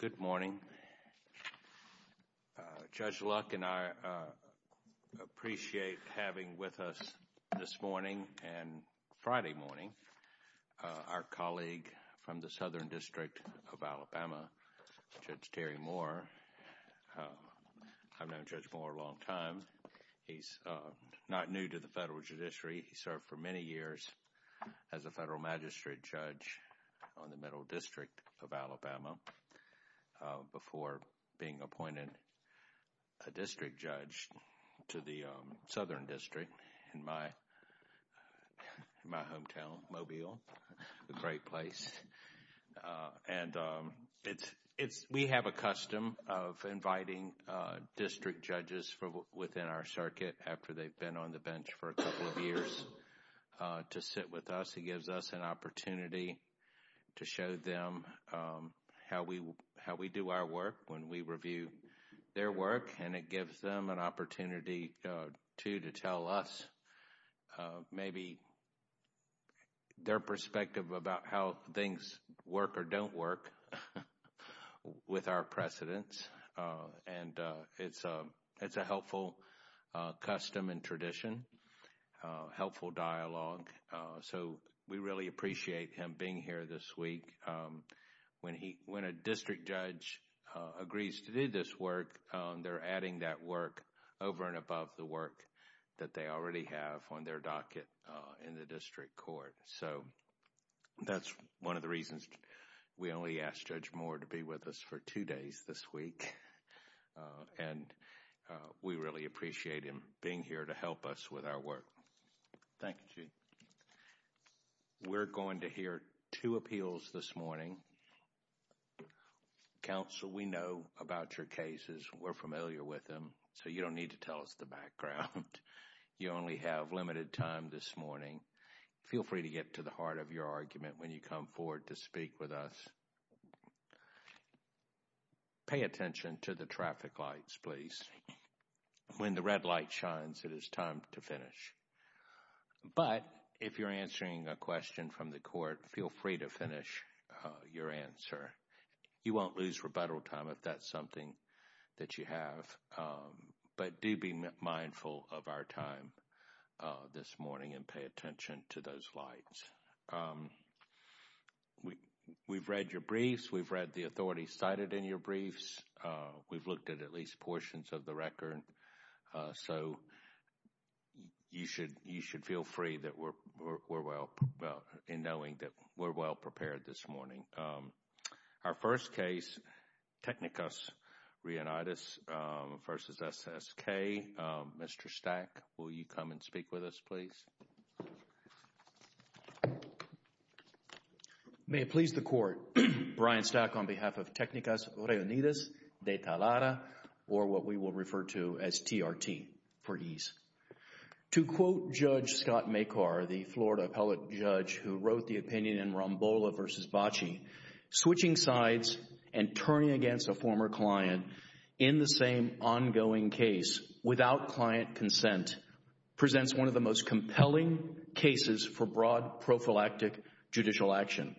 Good morning. Judge Luck and I appreciate having with us this morning, and Friday morning, our colleague from the Southern District of Alabama, Judge Terry Moore. I've known Judge Moore a long time. He's not new to the federal judiciary. He served for many years as a federal magistrate judge on the Middle District of Alabama before being appointed a district judge to the Southern District in my hometown, Mobile, a great place. We have a custom of inviting district judges within our circuit after they've been on the course to sit with us. He gives us an opportunity to show them how we do our work when we review their work, and it gives them an opportunity, too, to tell us maybe their perspective about how things work or don't work with our precedents. It's a helpful custom and tradition, helpful dialogue. We really appreciate him being here this week. When a district judge agrees to do this work, they're adding that work over and above the work that they already have on their docket in the district court. So, that's one of the reasons we only asked Judge Moore to be with us for two days this week, and we really appreciate him being here to help us with our work. Thank you, Chief. We're going to hear two appeals this morning. Counsel, we know about your cases. We're familiar with them, so you don't need to tell us the background. You only have limited time this morning. Feel free to get to the heart of your argument when you come forward to speak with us. Pay attention to the traffic lights, please. When the red light shines, it is time to finish. But if you're answering a question from the court, feel free to finish your answer. You won't lose rebuttal time if that's something that you have. But do be mindful of our time this morning and pay attention to those lights. We've read your briefs. We've read the authorities cited in your briefs. We've looked at at least portions of the record. So, you should feel free in knowing that we're well-prepared this morning. Our first case, Tecnicas Reunidas v. SSK. Mr. Stack, will you come and speak with us, please? May it please the court, Brian Stack on behalf of Tecnicas Reunidas de Talada, or what we will refer to as TRT for ease. To quote Judge Scott Makar, the Florida appellate judge who wrote the opinion in Rambola v. Bacci, switching sides and turning against a former client in the same ongoing case without client consent presents one of the most compelling cases for broad prophylactic judicial action.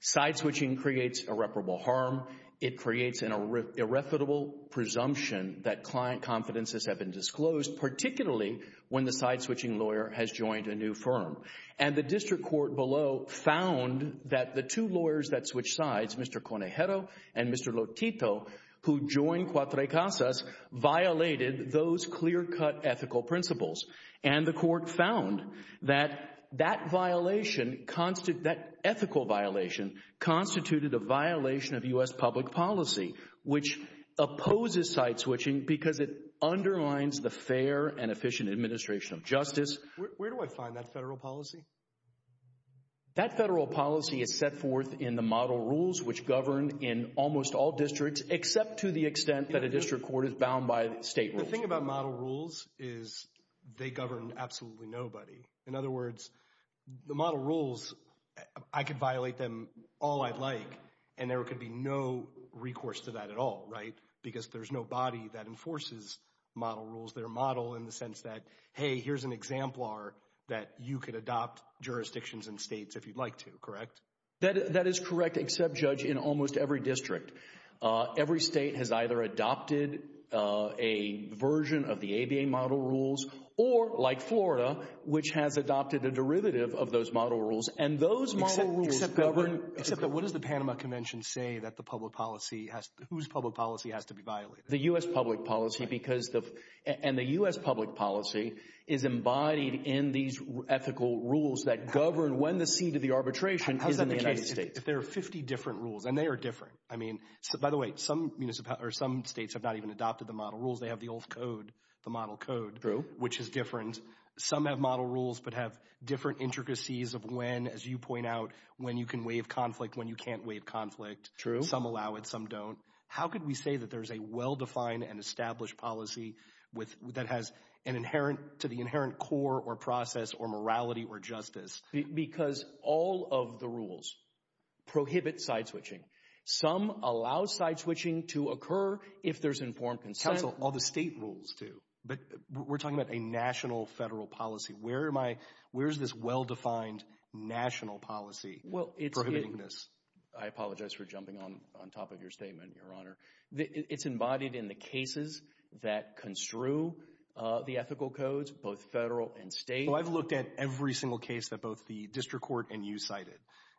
Side switching creates irreparable harm. It creates an irrefutable presumption that client confidences have been disclosed, particularly when the side-switching lawyer has joined a new firm. And the district court below found that the two lawyers that switched sides, Mr. Conejero and Mr. Lotito, who joined Cuatro Casas, violated those clear-cut ethical principles. And the court found that that violation, that ethical violation, constituted a violation of U.S. public policy, which opposes side switching because it underlines the fair and efficient administration of justice. Where do I find that federal policy? That federal policy is set forth in the model rules, which govern in almost all districts, except to the extent that a district court is bound by state rules. The thing about model rules is they govern absolutely nobody. In other words, the model rules, I could violate them all I'd like, and there could be no recourse to that at all, right? Because there's no body that enforces model rules. They're a model in the sense that, hey, here's an exemplar that you could adopt jurisdictions and states if you'd like to, correct? That is correct, except, Judge, in almost every district. Every state has either adopted a version of the ABA model rules or, like Florida, which has adopted a derivative of those model rules. Except that what does the Panama Convention say whose public policy has to be violated? The U.S. public policy, and the U.S. public policy is embodied in these ethical rules that govern when the seat of the arbitration is in the United States. How is that the case if there are 50 different rules, and they are different? I mean, by the way, some states have not even adopted the model rules. They have the old code, the model code, which is different. Some have model rules but have different intricacies of when, as you point out, when you can waive conflict, when you can't waive conflict. True. Some allow it. Some don't. How could we say that there's a well-defined and established policy that has an inherent core or process or morality or justice? Because all of the rules prohibit side switching. Some allow side switching to occur if there's informed consent. Counsel, all the state rules do. But we're talking about a national federal policy. Where is this well-defined national policy prohibiting this? I apologize for jumping on top of your statement, Your Honor. It's embodied in the cases that construe the ethical codes, both federal and state. Well, I've looked at every single case that both the district court and you cited.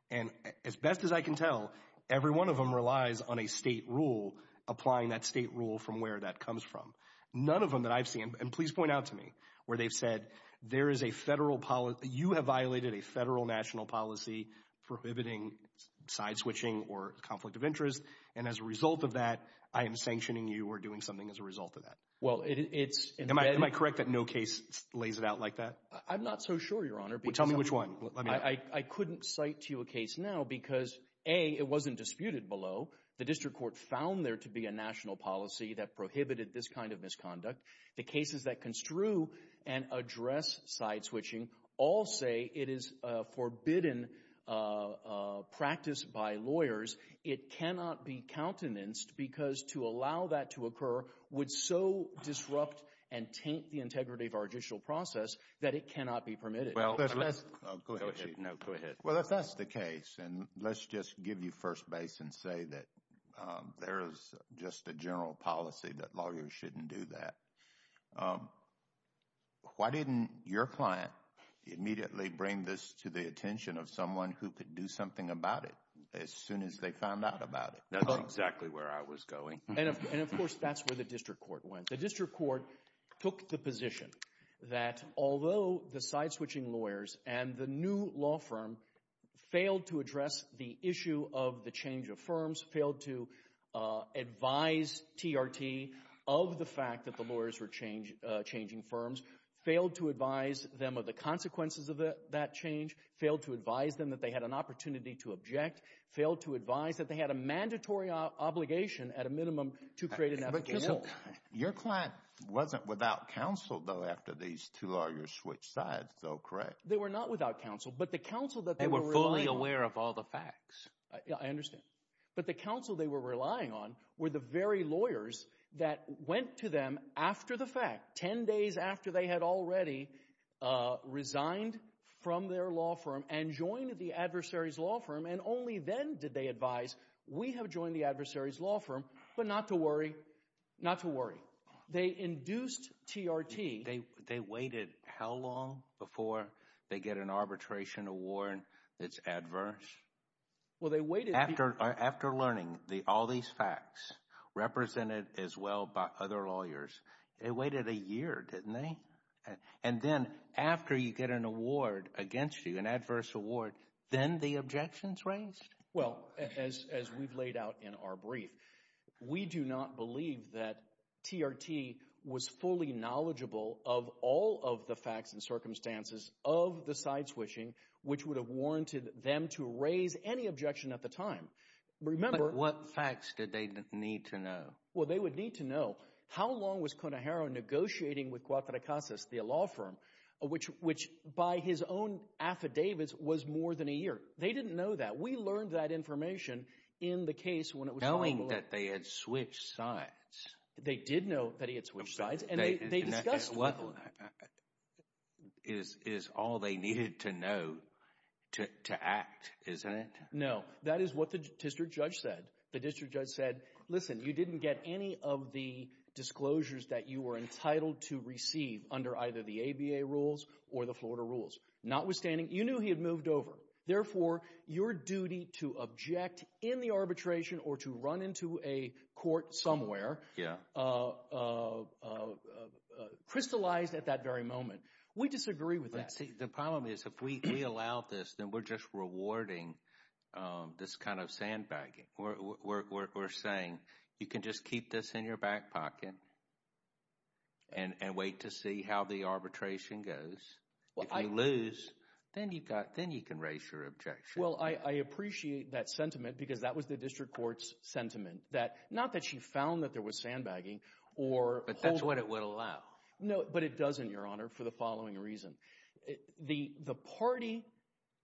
And as best as I can tell, every one of them relies on a state rule, applying that state rule from where that comes from. None of them that I've seen, and please point out to me, where they've said there is a federal policy. You have violated a federal national policy prohibiting side switching or conflict of interest. And as a result of that, I am sanctioning you or doing something as a result of that. Well, it's embedded. Am I correct that no case lays it out like that? I'm not so sure, Your Honor. Tell me which one. I couldn't cite to you a case now because, A, it wasn't disputed below. The district court found there to be a national policy that prohibited this kind of misconduct. The cases that construe and address side switching all say it is a forbidden practice by lawyers. It cannot be countenanced because to allow that to occur would so disrupt and taint the integrity of our judicial process that it cannot be permitted. Go ahead. No, go ahead. Well, if that's the case, and let's just give you first base and say that there is just a general policy that lawyers shouldn't do that, why didn't your client immediately bring this to the attention of someone who could do something about it as soon as they found out about it? That's exactly where I was going. And, of course, that's where the district court went. The district court took the position that although the side switching lawyers and the new law firm failed to address the issue of the change of firms, failed to advise TRT of the fact that the lawyers were changing firms, failed to advise them of the consequences of that change, failed to advise them that they had an opportunity to object, failed to advise that they had a mandatory obligation at a minimum to create an efficacy. But your client wasn't without counsel, though, after these two lawyers switched sides, though, correct? They were not without counsel, but the counsel that they were relying on— They were fully aware of all the facts. I understand. But the counsel they were relying on were the very lawyers that went to them after the fact, 10 days after they had already resigned from their law firm and joined the adversary's law firm, and only then did they advise, we have joined the adversary's law firm, but not to worry, not to worry. They induced TRT. They waited how long before they get an arbitration award that's adverse? Well, they waited— After learning all these facts, represented as well by other lawyers, they waited a year, didn't they? And then after you get an award against you, an adverse award, then the objection's raised? Well, as we've laid out in our brief, we do not believe that TRT was fully knowledgeable of all of the facts and circumstances of the side-switching, which would have warranted them to raise any objection at the time. Remember— But what facts did they need to know? Well, they would need to know how long was Conejero negotiating with Cuauhtemoc Casas, the law firm, which by his own affidavits was more than a year. They didn't know that. We learned that information in the case when it was— Knowing that they had switched sides. They did know that he had switched sides, and they discussed— Is all they needed to know to act, isn't it? No. That is what the district judge said. The district judge said, listen, you didn't get any of the disclosures that you were entitled to receive under either the ABA rules or the Florida rules. Notwithstanding, you knew he had moved over. Therefore, your duty to object in the arbitration or to run into a court somewhere crystallized at that very moment. We disagree with that. The problem is if we allow this, then we're just rewarding this kind of sandbagging. We're saying you can just keep this in your back pocket and wait to see how the arbitration goes. If you lose, then you can raise your objection. Well, I appreciate that sentiment because that was the district court's sentiment. Not that she found that there was sandbagging or— But that's what it would allow. No, but it doesn't, Your Honor, for the following reason. The party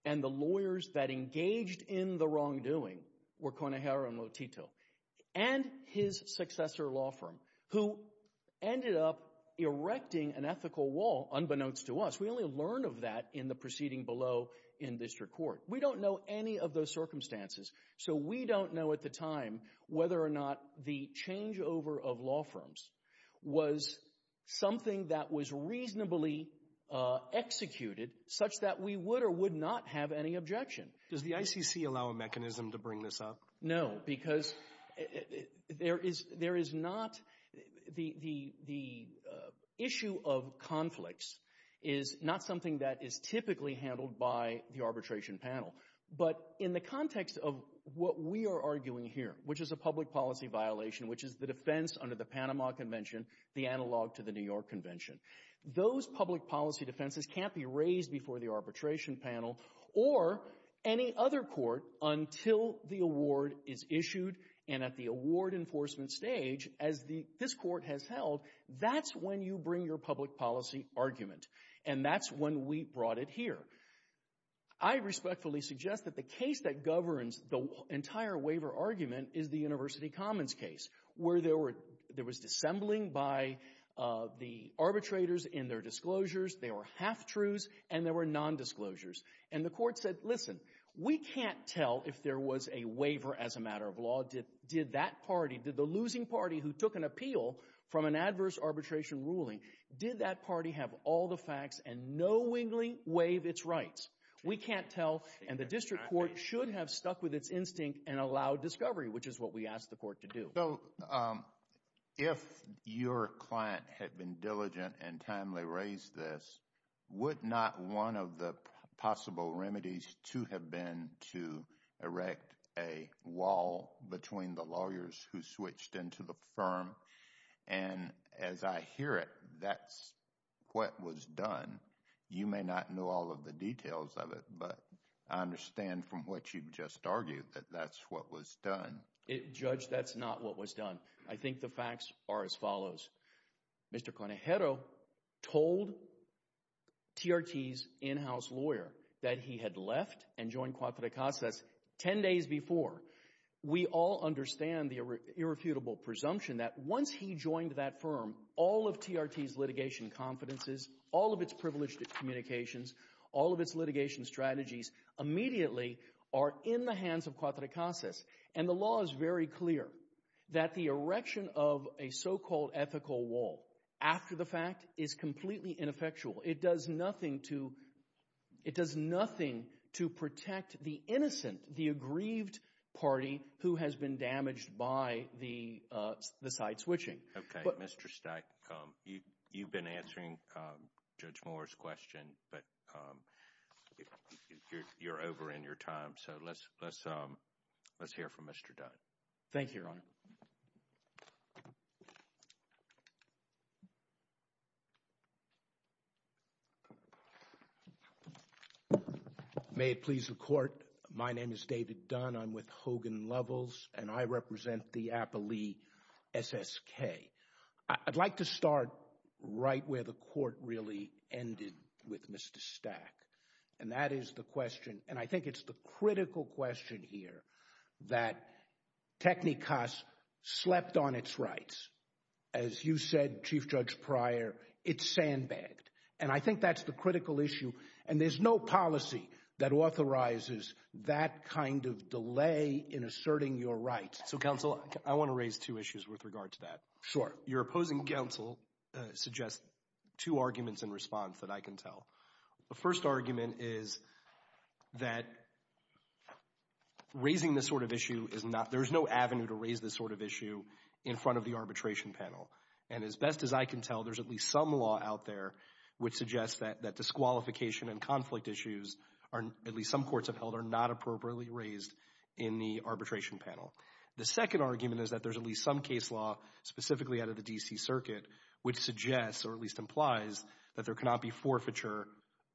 and the lawyers that engaged in the wrongdoing were Conejera and Lotito and his successor law firm, who ended up erecting an ethical wall unbeknownst to us. We only learn of that in the proceeding below in district court. We don't know any of those circumstances. So we don't know at the time whether or not the changeover of law firms was something that was reasonably executed such that we would or would not have any objection. Does the ICC allow a mechanism to bring this up? No, because there is not—the issue of conflicts is not something that is typically handled by the arbitration panel. But in the context of what we are arguing here, which is a public policy violation, which is the defense under the Panama Convention, the analog to the New York Convention, those public policy defenses can't be raised before the arbitration panel or any other court until the award is issued. And at the award enforcement stage, as this court has held, that's when you bring your public policy argument, and that's when we brought it here. I respectfully suggest that the case that governs the entire waiver argument is the University Commons case where there was dissembling by the arbitrators in their disclosures. There were half-truths, and there were nondisclosures. And the court said, listen, we can't tell if there was a waiver as a matter of law. Did that party, did the losing party who took an appeal from an adverse arbitration ruling, did that party have all the facts and knowingly waive its rights? We can't tell, and the district court should have stuck with its instinct and allowed discovery, which is what we asked the court to do. So if your client had been diligent and timely raised this, would not one of the possible remedies to have been to erect a wall between the lawyers who switched into the firm? And as I hear it, that's what was done. You may not know all of the details of it, but I understand from what you've just argued that that's what was done. Judge, that's not what was done. I think the facts are as follows. Mr. Conejero told TRT's in-house lawyer that he had left and joined Cuauhtecas 10 days before. We all understand the irrefutable presumption that once he joined that firm, all of TRT's litigation confidences, all of its privileged communications, all of its litigation strategies immediately are in the hands of Cuauhtecas. And the law is very clear that the erection of a so-called ethical wall after the fact is completely ineffectual. It does nothing to protect the innocent, the aggrieved party who has been damaged by the side switching. Okay, Mr. Stack, you've been answering Judge Moore's question, but you're over in your time. So let's hear from Mr. Dunn. Thank you, Your Honor. May it please the Court. My name is David Dunn. I'm with Hogan Lovels, and I represent the Appali SSK. I'd like to start right where the Court really ended with Mr. Stack, and that is the question, and I think it's the critical question here, that technicus slept on its rights. As you said, Chief Judge Pryor, it's sandbagged, and I think that's the critical issue, and there's no policy that authorizes that kind of delay in asserting your rights. So, counsel, I want to raise two issues with regard to that. Sure. Your opposing counsel suggests two arguments in response that I can tell. The first argument is that raising this sort of issue is not, there's no avenue to raise this sort of issue in front of the arbitration panel, and as best as I can tell, there's at least some law out there which suggests that disqualification and conflict issues, at least some courts have held, are not appropriately raised in the arbitration panel. The second argument is that there's at least some case law, specifically out of the D.C. Circuit, which suggests, or at least implies, that there cannot be forfeiture,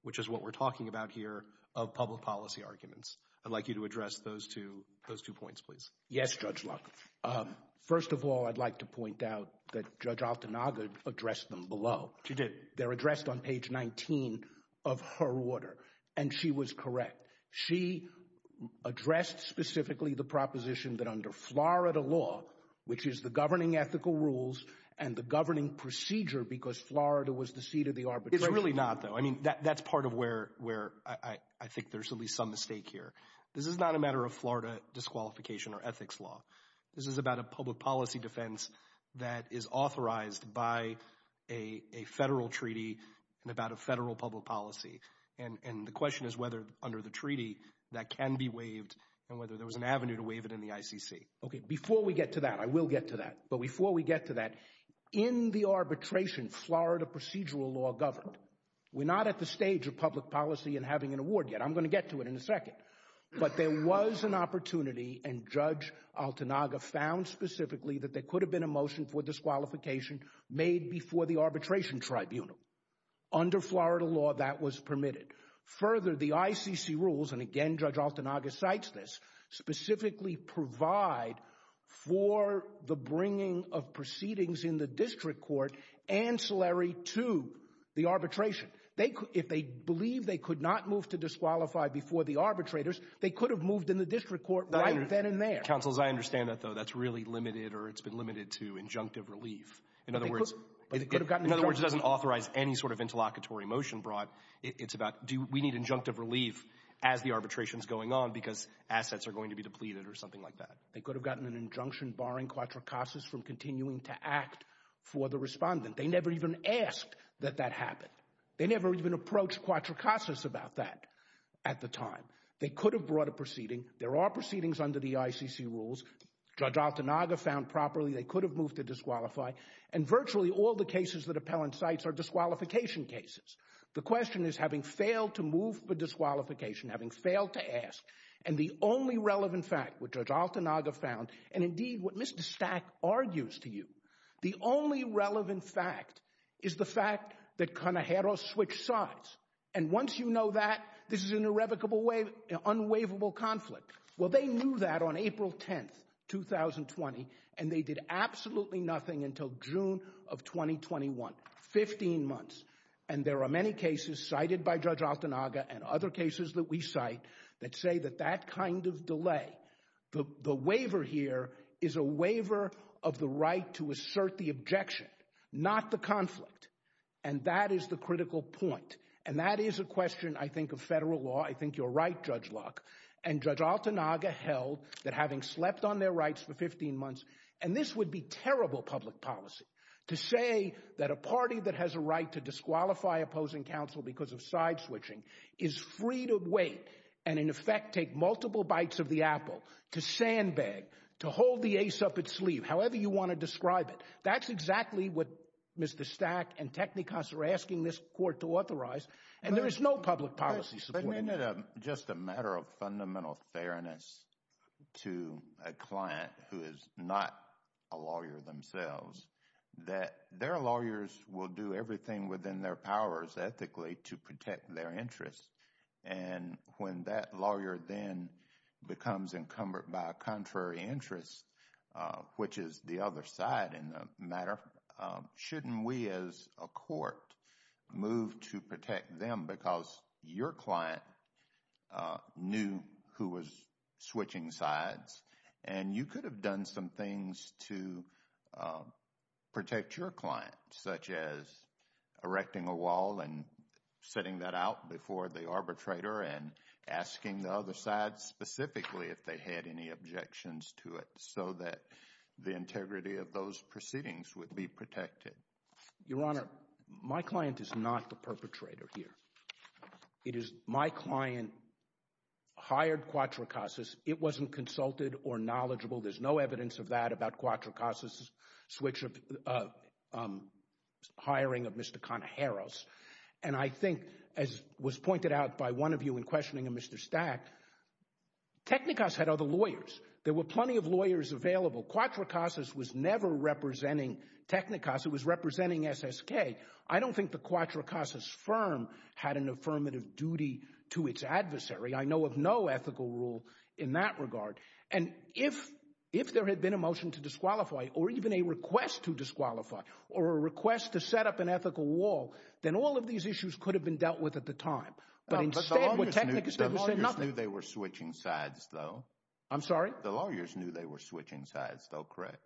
which is what we're talking about here, of public policy arguments. I'd like you to address those two points, please. Yes, Judge Luck. First of all, I'd like to point out that Judge Altanaga addressed them below. She did. They're addressed on page 19 of her order, and she was correct. She addressed specifically the proposition that under Florida law, which is the governing ethical rules and the governing procedure, because Florida was the seat of the arbitration. It's really not, though. I mean, that's part of where I think there's at least some mistake here. This is not a matter of Florida disqualification or ethics law. This is about a public policy defense that is authorized by a federal treaty and about a federal public policy, and the question is whether under the treaty that can be waived and whether there was an avenue to waive it in the ICC. Okay, before we get to that, I will get to that, but before we get to that, in the arbitration, Florida procedural law governed. We're not at the stage of public policy and having an award yet. I'm going to get to it in a second, but there was an opportunity, and Judge Altanaga found specifically that there could have been a motion for disqualification made before the arbitration tribunal. Under Florida law, that was permitted. Further, the ICC rules, and again, Judge Altanaga cites this, specifically provide for the bringing of proceedings in the district court ancillary to the arbitration. If they believe they could not move to disqualify before the arbitrators, they could have moved in the district court right then and there. Counsel, as I understand that, though, that's really limited or it's been limited to injunctive relief. In other words, it doesn't authorize any sort of interlocutory motion brought. It's about do we need injunctive relief as the arbitration is going on because assets are going to be depleted or something like that. They could have gotten an injunction barring Quattro Casas from continuing to act for the respondent. They never even asked that that happen. They never even approached Quattro Casas about that at the time. They could have brought a proceeding. There are proceedings under the ICC rules. Judge Altanaga found properly they could have moved to disqualify, and virtually all the cases that Appellant cites are disqualification cases. The question is, having failed to move for disqualification, having failed to ask, and the only relevant fact, which Judge Altanaga found, and indeed what Mr. Stack argues to you, the only relevant fact is the fact that Canajeros switched sides. And once you know that, this is an irrevocable, unwaverable conflict. Well, they knew that on April 10, 2020, and they did absolutely nothing until June of 2021, 15 months. And there are many cases cited by Judge Altanaga and other cases that we cite that say that that kind of delay, the waiver here is a waiver of the right to assert the objection, not the conflict. And that is the critical point. And that is a question, I think, of federal law. I think you're right, Judge Locke. And Judge Altanaga held that having slept on their rights for 15 months, and this would be terrible public policy, to say that a party that has a right to disqualify opposing counsel because of side-switching is free to wait, and in effect take multiple bites of the apple, to sandbag, to hold the ace up its sleeve, however you want to describe it. That's exactly what Mr. Stack and Technikos are asking this court to authorize, and there is no public policy supporting that. who is not a lawyer themselves, that their lawyers will do everything within their powers ethically to protect their interests. And when that lawyer then becomes encumbered by a contrary interest, which is the other side in the matter, shouldn't we as a court move to protect them because your client knew who was switching sides and you could have done some things to protect your client, such as erecting a wall and setting that out before the arbitrator and asking the other side specifically if they had any objections to it so that the integrity of those proceedings would be protected? Your Honor, my client is not the perpetrator here. It is my client hired Quattro Casas. It wasn't consulted or knowledgeable. There's no evidence of that about Quattro Casas' hiring of Mr. Conajeros. And I think, as was pointed out by one of you in questioning of Mr. Stack, Technikos had other lawyers. There were plenty of lawyers available. Quattro Casas was never representing Technikos. It was representing SSK. I don't think the Quattro Casas firm had an affirmative duty to its adversary. I know of no ethical rule in that regard. And if there had been a motion to disqualify or even a request to disqualify or a request to set up an ethical wall, then all of these issues could have been dealt with at the time. But instead, what Technikos did was say nothing. The lawyers knew they were switching sides, though. I'm sorry? The lawyers knew they were switching sides, though, correct?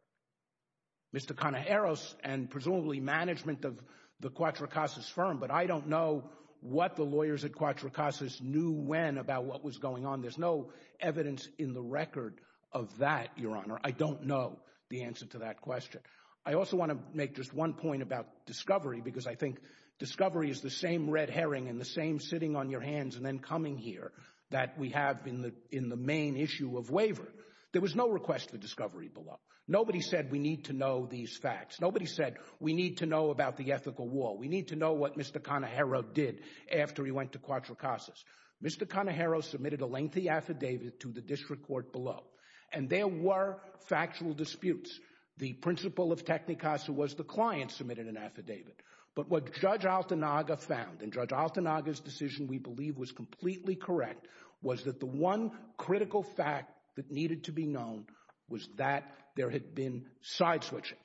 Mr. Conajeros and presumably management of the Quattro Casas firm, but I don't know what the lawyers at Quattro Casas knew when about what was going on. There's no evidence in the record of that, Your Honor. I don't know the answer to that question. I also want to make just one point about discovery, because I think discovery is the same red herring and the same sitting on your hands and then coming here that we have in the main issue of waiver. There was no request for discovery below. Nobody said we need to know these facts. Nobody said we need to know about the ethical wall. We need to know what Mr. Conajeros did after he went to Quattro Casas. Mr. Conajeros submitted a lengthy affidavit to the district court below, and there were factual disputes. The principle of Technikos was the client submitted an affidavit. But what Judge Altanaga found, and Judge Altanaga's decision we believe was completely correct, was that the one critical fact that needed to be known was that there had been side switching.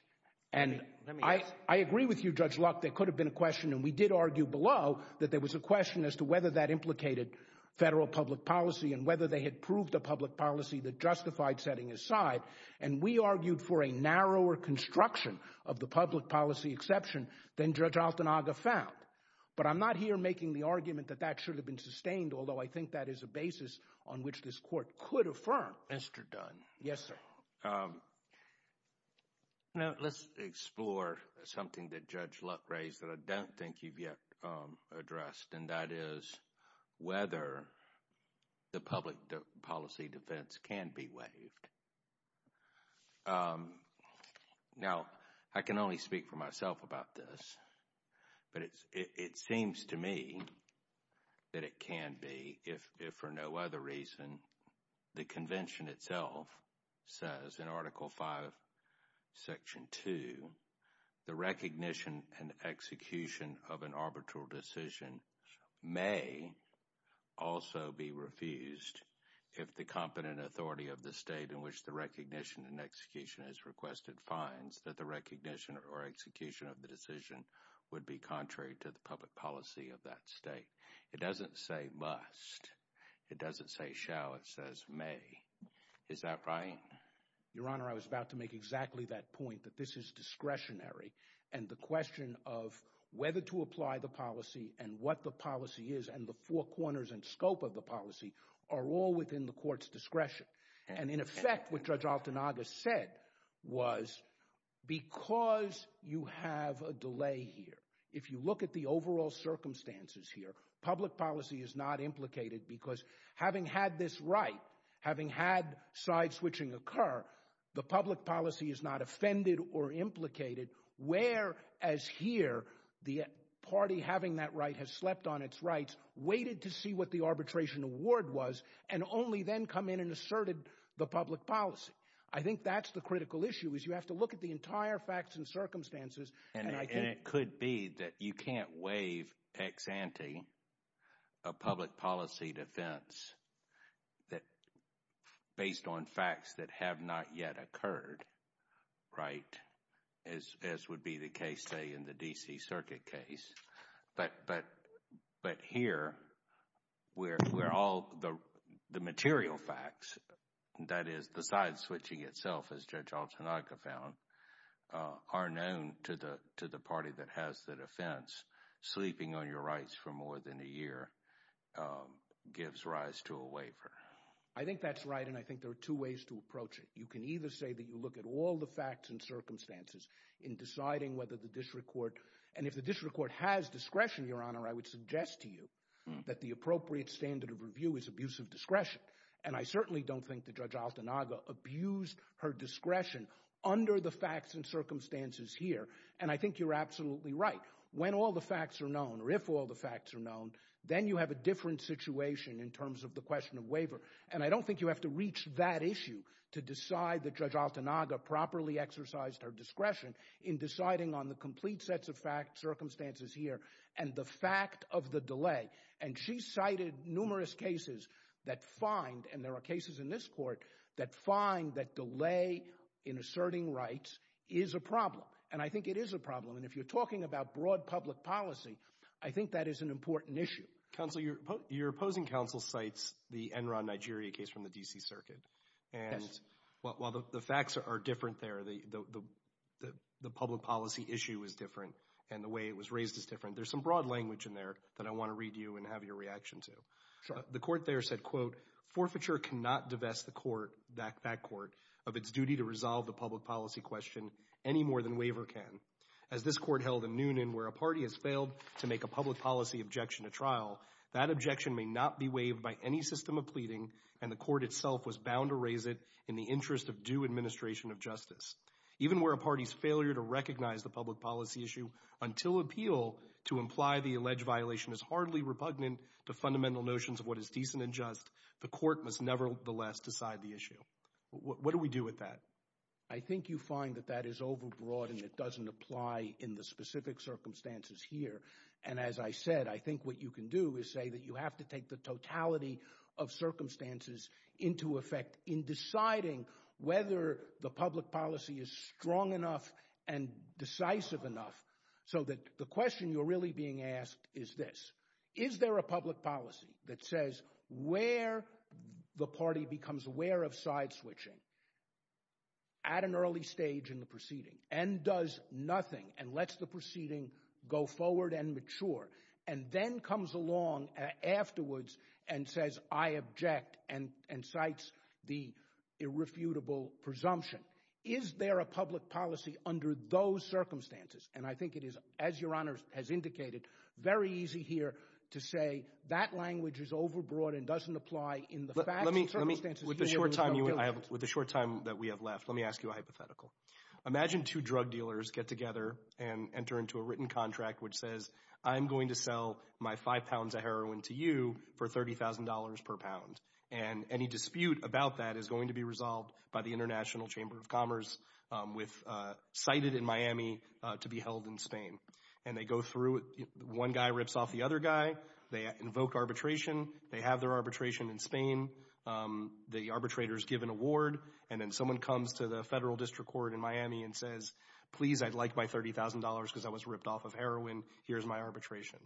I agree with you, Judge Luck, there could have been a question, and we did argue below that there was a question as to whether that implicated federal public policy and whether they had proved a public policy that justified setting aside. And we argued for a narrower construction of the public policy exception than Judge Altanaga found. But I'm not here making the argument that that should have been sustained, although I think that is a basis on which this court could affirm. Mr. Dunn. Yes, sir. Well, let's explore something that Judge Luck raised that I don't think you've yet addressed, and that is whether the public policy defense can be waived. Now, I can only speak for myself about this, but it seems to me that it can be, if for no other reason the convention itself says in Article V, Section 2, the recognition and execution of an arbitral decision may also be refused if the competent authority of the state in which the recognition and execution is requested finds that the recognition or execution of the decision would be contrary to the public policy of that state. It doesn't say must. It doesn't say shall. It says may. Is that right? Your Honor, I was about to make exactly that point, that this is discretionary, and the question of whether to apply the policy and what the policy is and the four corners and scope of the policy are all within the court's discretion. And in effect, what Judge Altanaga said was because you have a delay here, if you look at the overall circumstances here, public policy is not implicated because having had this right, having had side-switching occur, the public policy is not offended or implicated, whereas here the party having that right has slept on its rights, waited to see what the arbitration award was, and only then come in and asserted the public policy. I think that's the critical issue is you have to look at the entire facts and circumstances. And it could be that you can't waive ex ante a public policy defense based on facts that have not yet occurred, right, as would be the case, say, in the D.C. Circuit case. But here where all the material facts, that is the side-switching itself, as Judge Altanaga found, are known to the party that has the defense, sleeping on your rights for more than a year gives rise to a waiver. I think that's right, and I think there are two ways to approach it. You can either say that you look at all the facts and circumstances in deciding whether the district court – and if the district court has discretion, Your Honor, I would suggest to you that the appropriate standard of review is abusive discretion. And I certainly don't think that Judge Altanaga abused her discretion under the facts and circumstances here. And I think you're absolutely right. When all the facts are known, or if all the facts are known, then you have a different situation in terms of the question of waiver. And I don't think you have to reach that issue to decide that Judge Altanaga properly exercised her discretion in deciding on the complete sets of circumstances here and the fact of the delay. And she cited numerous cases that find – and there are cases in this court that find that delay in asserting rights is a problem. And I think it is a problem, and if you're talking about broad public policy, I think that is an important issue. Counsel, your opposing counsel cites the Enron Nigeria case from the D.C. Circuit. And while the facts are different there, the public policy issue is different, and the way it was raised is different, there's some broad language in there that I want to read you and have your reaction to. The court there said, quote, Forfeiture cannot divest the court – that court – of its duty to resolve the public policy question any more than waiver can. As this court held in Noonan, where a party has failed to make a public policy objection to trial, that objection may not be waived by any system of pleading, and the court itself was bound to raise it in the interest of due administration of justice. Even where a party's failure to recognize the public policy issue until appeal to imply the alleged violation is hardly repugnant to fundamental notions of what is decent and just, the court must nevertheless decide the issue. What do we do with that? I think you find that that is overbroad and it doesn't apply in the specific circumstances here. And as I said, I think what you can do is say that you have to take the totality of circumstances into effect in deciding whether the public policy is strong enough and decisive enough so that the question you're really being asked is this. Is there a public policy that says where the party becomes aware of side-switching at an early stage in the proceeding and does nothing and lets the proceeding go forward and mature and then comes along afterwards and says I object and cites the irrefutable presumption. Is there a public policy under those circumstances? And I think it is, as your Honor has indicated, very easy here to say that language is overbroad and doesn't apply in the facts and circumstances. With the short time that we have left, let me ask you a hypothetical. Imagine two drug dealers get together and enter into a written contract which says I'm going to sell my five pounds of heroin to you for $30,000 per pound. And any dispute about that is going to be resolved by the International Chamber of Commerce cited in Miami to be held in Spain. And they go through. One guy rips off the other guy. They invoke arbitration. They have their arbitration in Spain. The arbitrators give an award. And then someone comes to the federal district court in Miami and says please I'd like my $30,000 because I was ripped off of heroin. Here's my arbitration.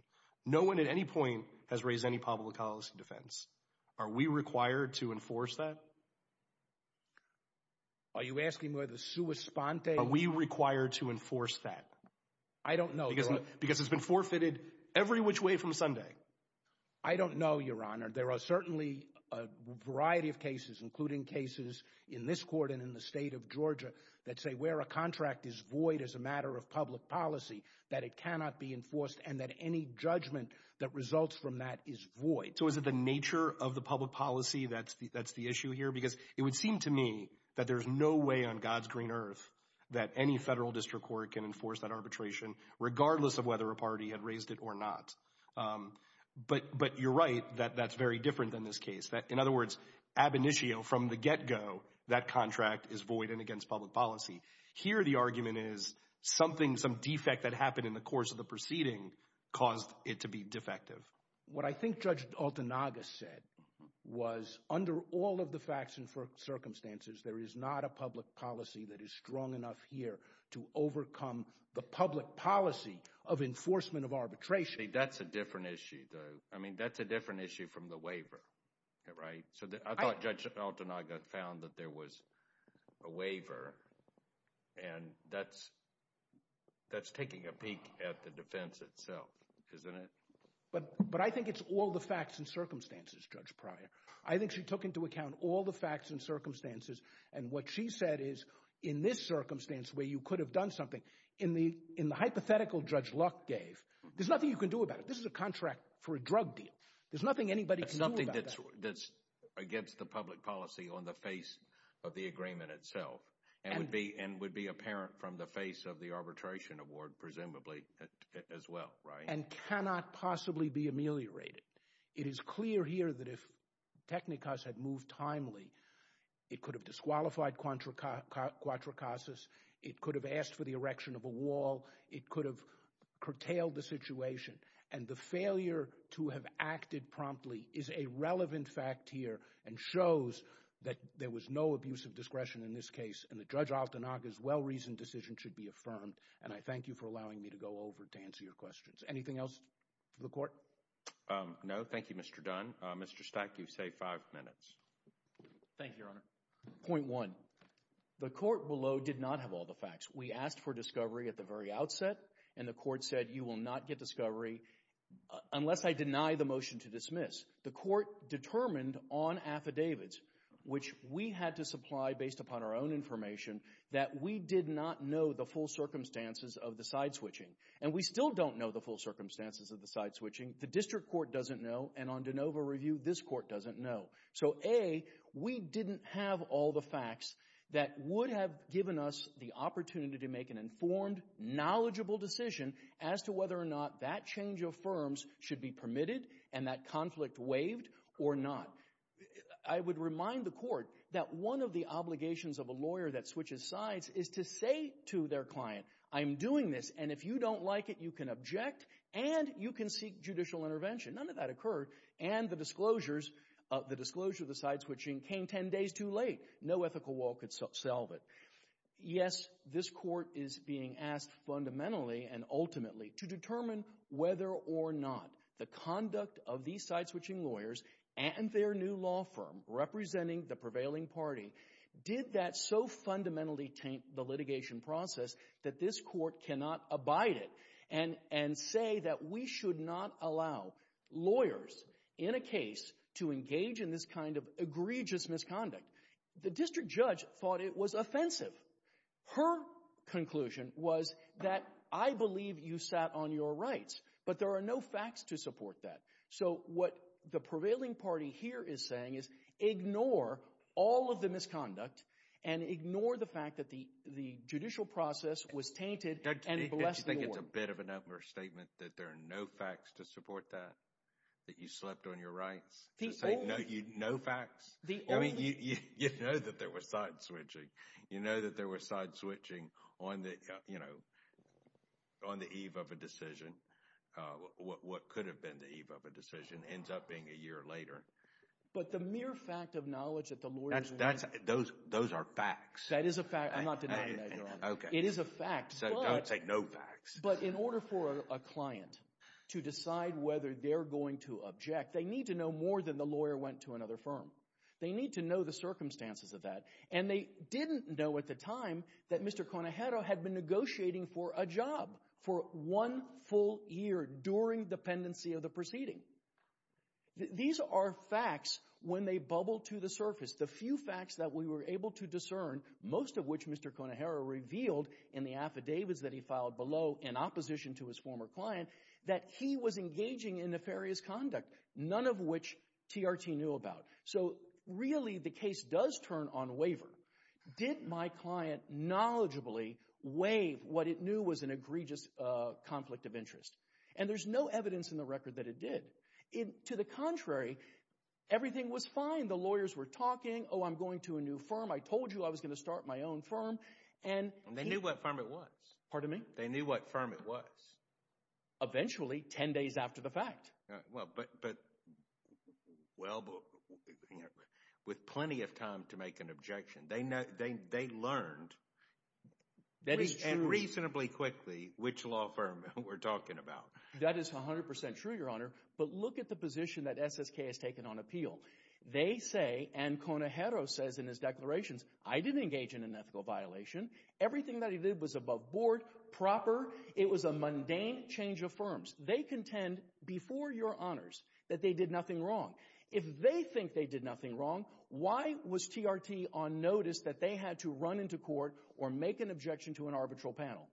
No one at any point has raised any public policy defense. Are we required to enforce that? Are you asking whether sui sponte? Are we required to enforce that? I don't know, Your Honor. Because it's been forfeited every which way from Sunday. I don't know, Your Honor. There are certainly a variety of cases including cases in this court and in the state of Georgia that say where a contract is void as a matter of public policy that it cannot be enforced and that any judgment that results from that is void. So is it the nature of the public policy that's the issue here? Because it would seem to me that there's no way on God's green earth that any federal district court can enforce that arbitration regardless of whether a party had raised it or not. But you're right that that's very different than this case. In other words, ab initio, from the get-go, that contract is void and against public policy. Here the argument is something, some defect that happened in the course of the proceeding caused it to be defective. What I think Judge Altanaga said was under all of the facts and circumstances there is not a public policy that is strong enough here to overcome the public policy of enforcement of arbitration. See, that's a different issue though. I mean, that's a different issue from the waiver, right? So I thought Judge Altanaga found that there was a waiver and that's taking a peek at the defense itself, isn't it? But I think it's all the facts and circumstances, Judge Pryor. I think she took into account all the facts and circumstances and what she said is in this circumstance where you could have done something, in the hypothetical Judge Luck gave, there's nothing you can do about it. This is a contract for a drug deal. There's nothing anybody can do about that. It's something that's against the public policy on the face of the agreement itself and would be apparent from the face of the arbitration award presumably as well, right? And cannot possibly be ameliorated. It is clear here that if Technikus had moved timely, it could have disqualified Quattro Casas. It could have asked for the erection of a wall. It could have curtailed the situation. And the failure to have acted promptly is a relevant fact here and shows that there was no abuse of discretion in this case and that Judge Altanaga's well-reasoned decision should be affirmed. And I thank you for allowing me to go over to answer your questions. Anything else for the court? No, thank you, Mr. Dunn. Mr. Stack, you've saved five minutes. Thank you, Your Honor. Point one, the court below did not have all the facts. We asked for discovery at the very outset, and the court said you will not get discovery unless I deny the motion to dismiss. The court determined on affidavits, which we had to supply based upon our own information, that we did not know the full circumstances of the side switching. And we still don't know the full circumstances of the side switching. The district court doesn't know, and on de novo review, this court doesn't know. So, A, we didn't have all the facts that would have given us the opportunity to make an informed, knowledgeable decision as to whether or not that change of firms should be permitted and that conflict waived or not. I would remind the court that one of the obligations of a lawyer that switches sides is to say to their client, I'm doing this, and if you don't like it, you can object and you can seek judicial intervention. None of that occurred, and the disclosure of the side switching came ten days too late. No ethical wall could solve it. Yes, this court is being asked fundamentally and ultimately to determine whether or not the conduct of these side switching lawyers and their new law firm representing the prevailing party did that so fundamentally taint the litigation process that this court cannot abide it and say that we should not allow lawyers in a case to engage in this kind of egregious misconduct. The district judge thought it was offensive. Her conclusion was that I believe you sat on your rights, but there are no facts to support that. So what the prevailing party here is saying is ignore all of the misconduct and ignore the fact that the judicial process was tainted and bless the law. Don't you think it's a bit of an utter statement that there are no facts to support that, that you slept on your rights? No facts? You know that there was side switching. You know that there was side switching on the eve of a decision. What could have been the eve of a decision ends up being a year later. But the mere fact of knowledge that the lawyers— Those are facts. That is a fact. I'm not denying that, Your Honor. Okay. It is a fact. So don't take no facts. But in order for a client to decide whether they're going to object, they need to know more than the lawyer went to another firm. They need to know the circumstances of that. And they didn't know at the time that Mr. Conejero had been negotiating for a job for one full year during the pendency of the proceeding. These are facts when they bubble to the surface. The few facts that we were able to discern, most of which Mr. Conejero revealed in the affidavits that he filed below in opposition to his former client, that he was engaging in nefarious conduct, none of which TRT knew about. So really the case does turn on waiver. Did my client knowledgeably waive what it knew was an egregious conflict of interest? And there's no evidence in the record that it did. To the contrary, everything was fine. The lawyers were talking. Oh, I'm going to a new firm. I told you I was going to start my own firm. And they knew what firm it was. Pardon me? They knew what firm it was. Eventually, 10 days after the fact. But, well, with plenty of time to make an objection, they learned reasonably quickly which law firm we're talking about. That is 100% true, Your Honor. But look at the position that SSK has taken on appeal. They say, and Conejero says in his declarations, I didn't engage in an ethical violation. Everything that he did was above board, proper. It was a mundane change of firms. They contend before Your Honors that they did nothing wrong. If they think they did nothing wrong, why was TRT on notice that they had to run into court or make an objection to an arbitral panel?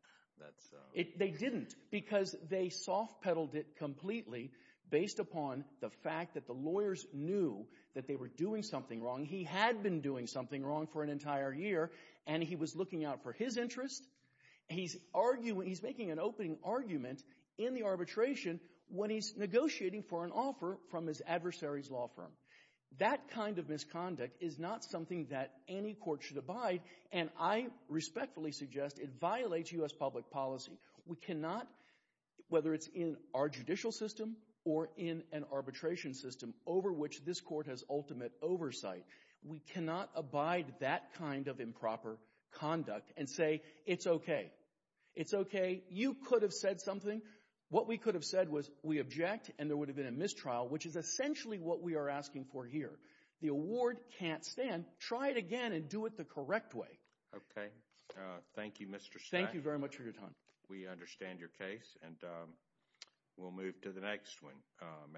They didn't because they soft-pedaled it completely based upon the fact that the lawyers knew that they were doing something wrong. He had been doing something wrong for an entire year, and he was looking out for his interest. He's making an opening argument in the arbitration when he's negotiating for an offer from his adversary's law firm. That kind of misconduct is not something that any court should abide, and I respectfully suggest it violates U.S. public policy. We cannot, whether it's in our judicial system or in an arbitration system over which this court has ultimate oversight, we cannot abide that kind of improper conduct and say it's okay. It's okay. You could have said something. What we could have said was we object, and there would have been a mistrial, which is essentially what we are asking for here. The award can't stand. Try it again and do it the correct way. Okay. Thank you, Mr. Stack. Thank you very much for your time. We understand your case, and we'll move to the next one.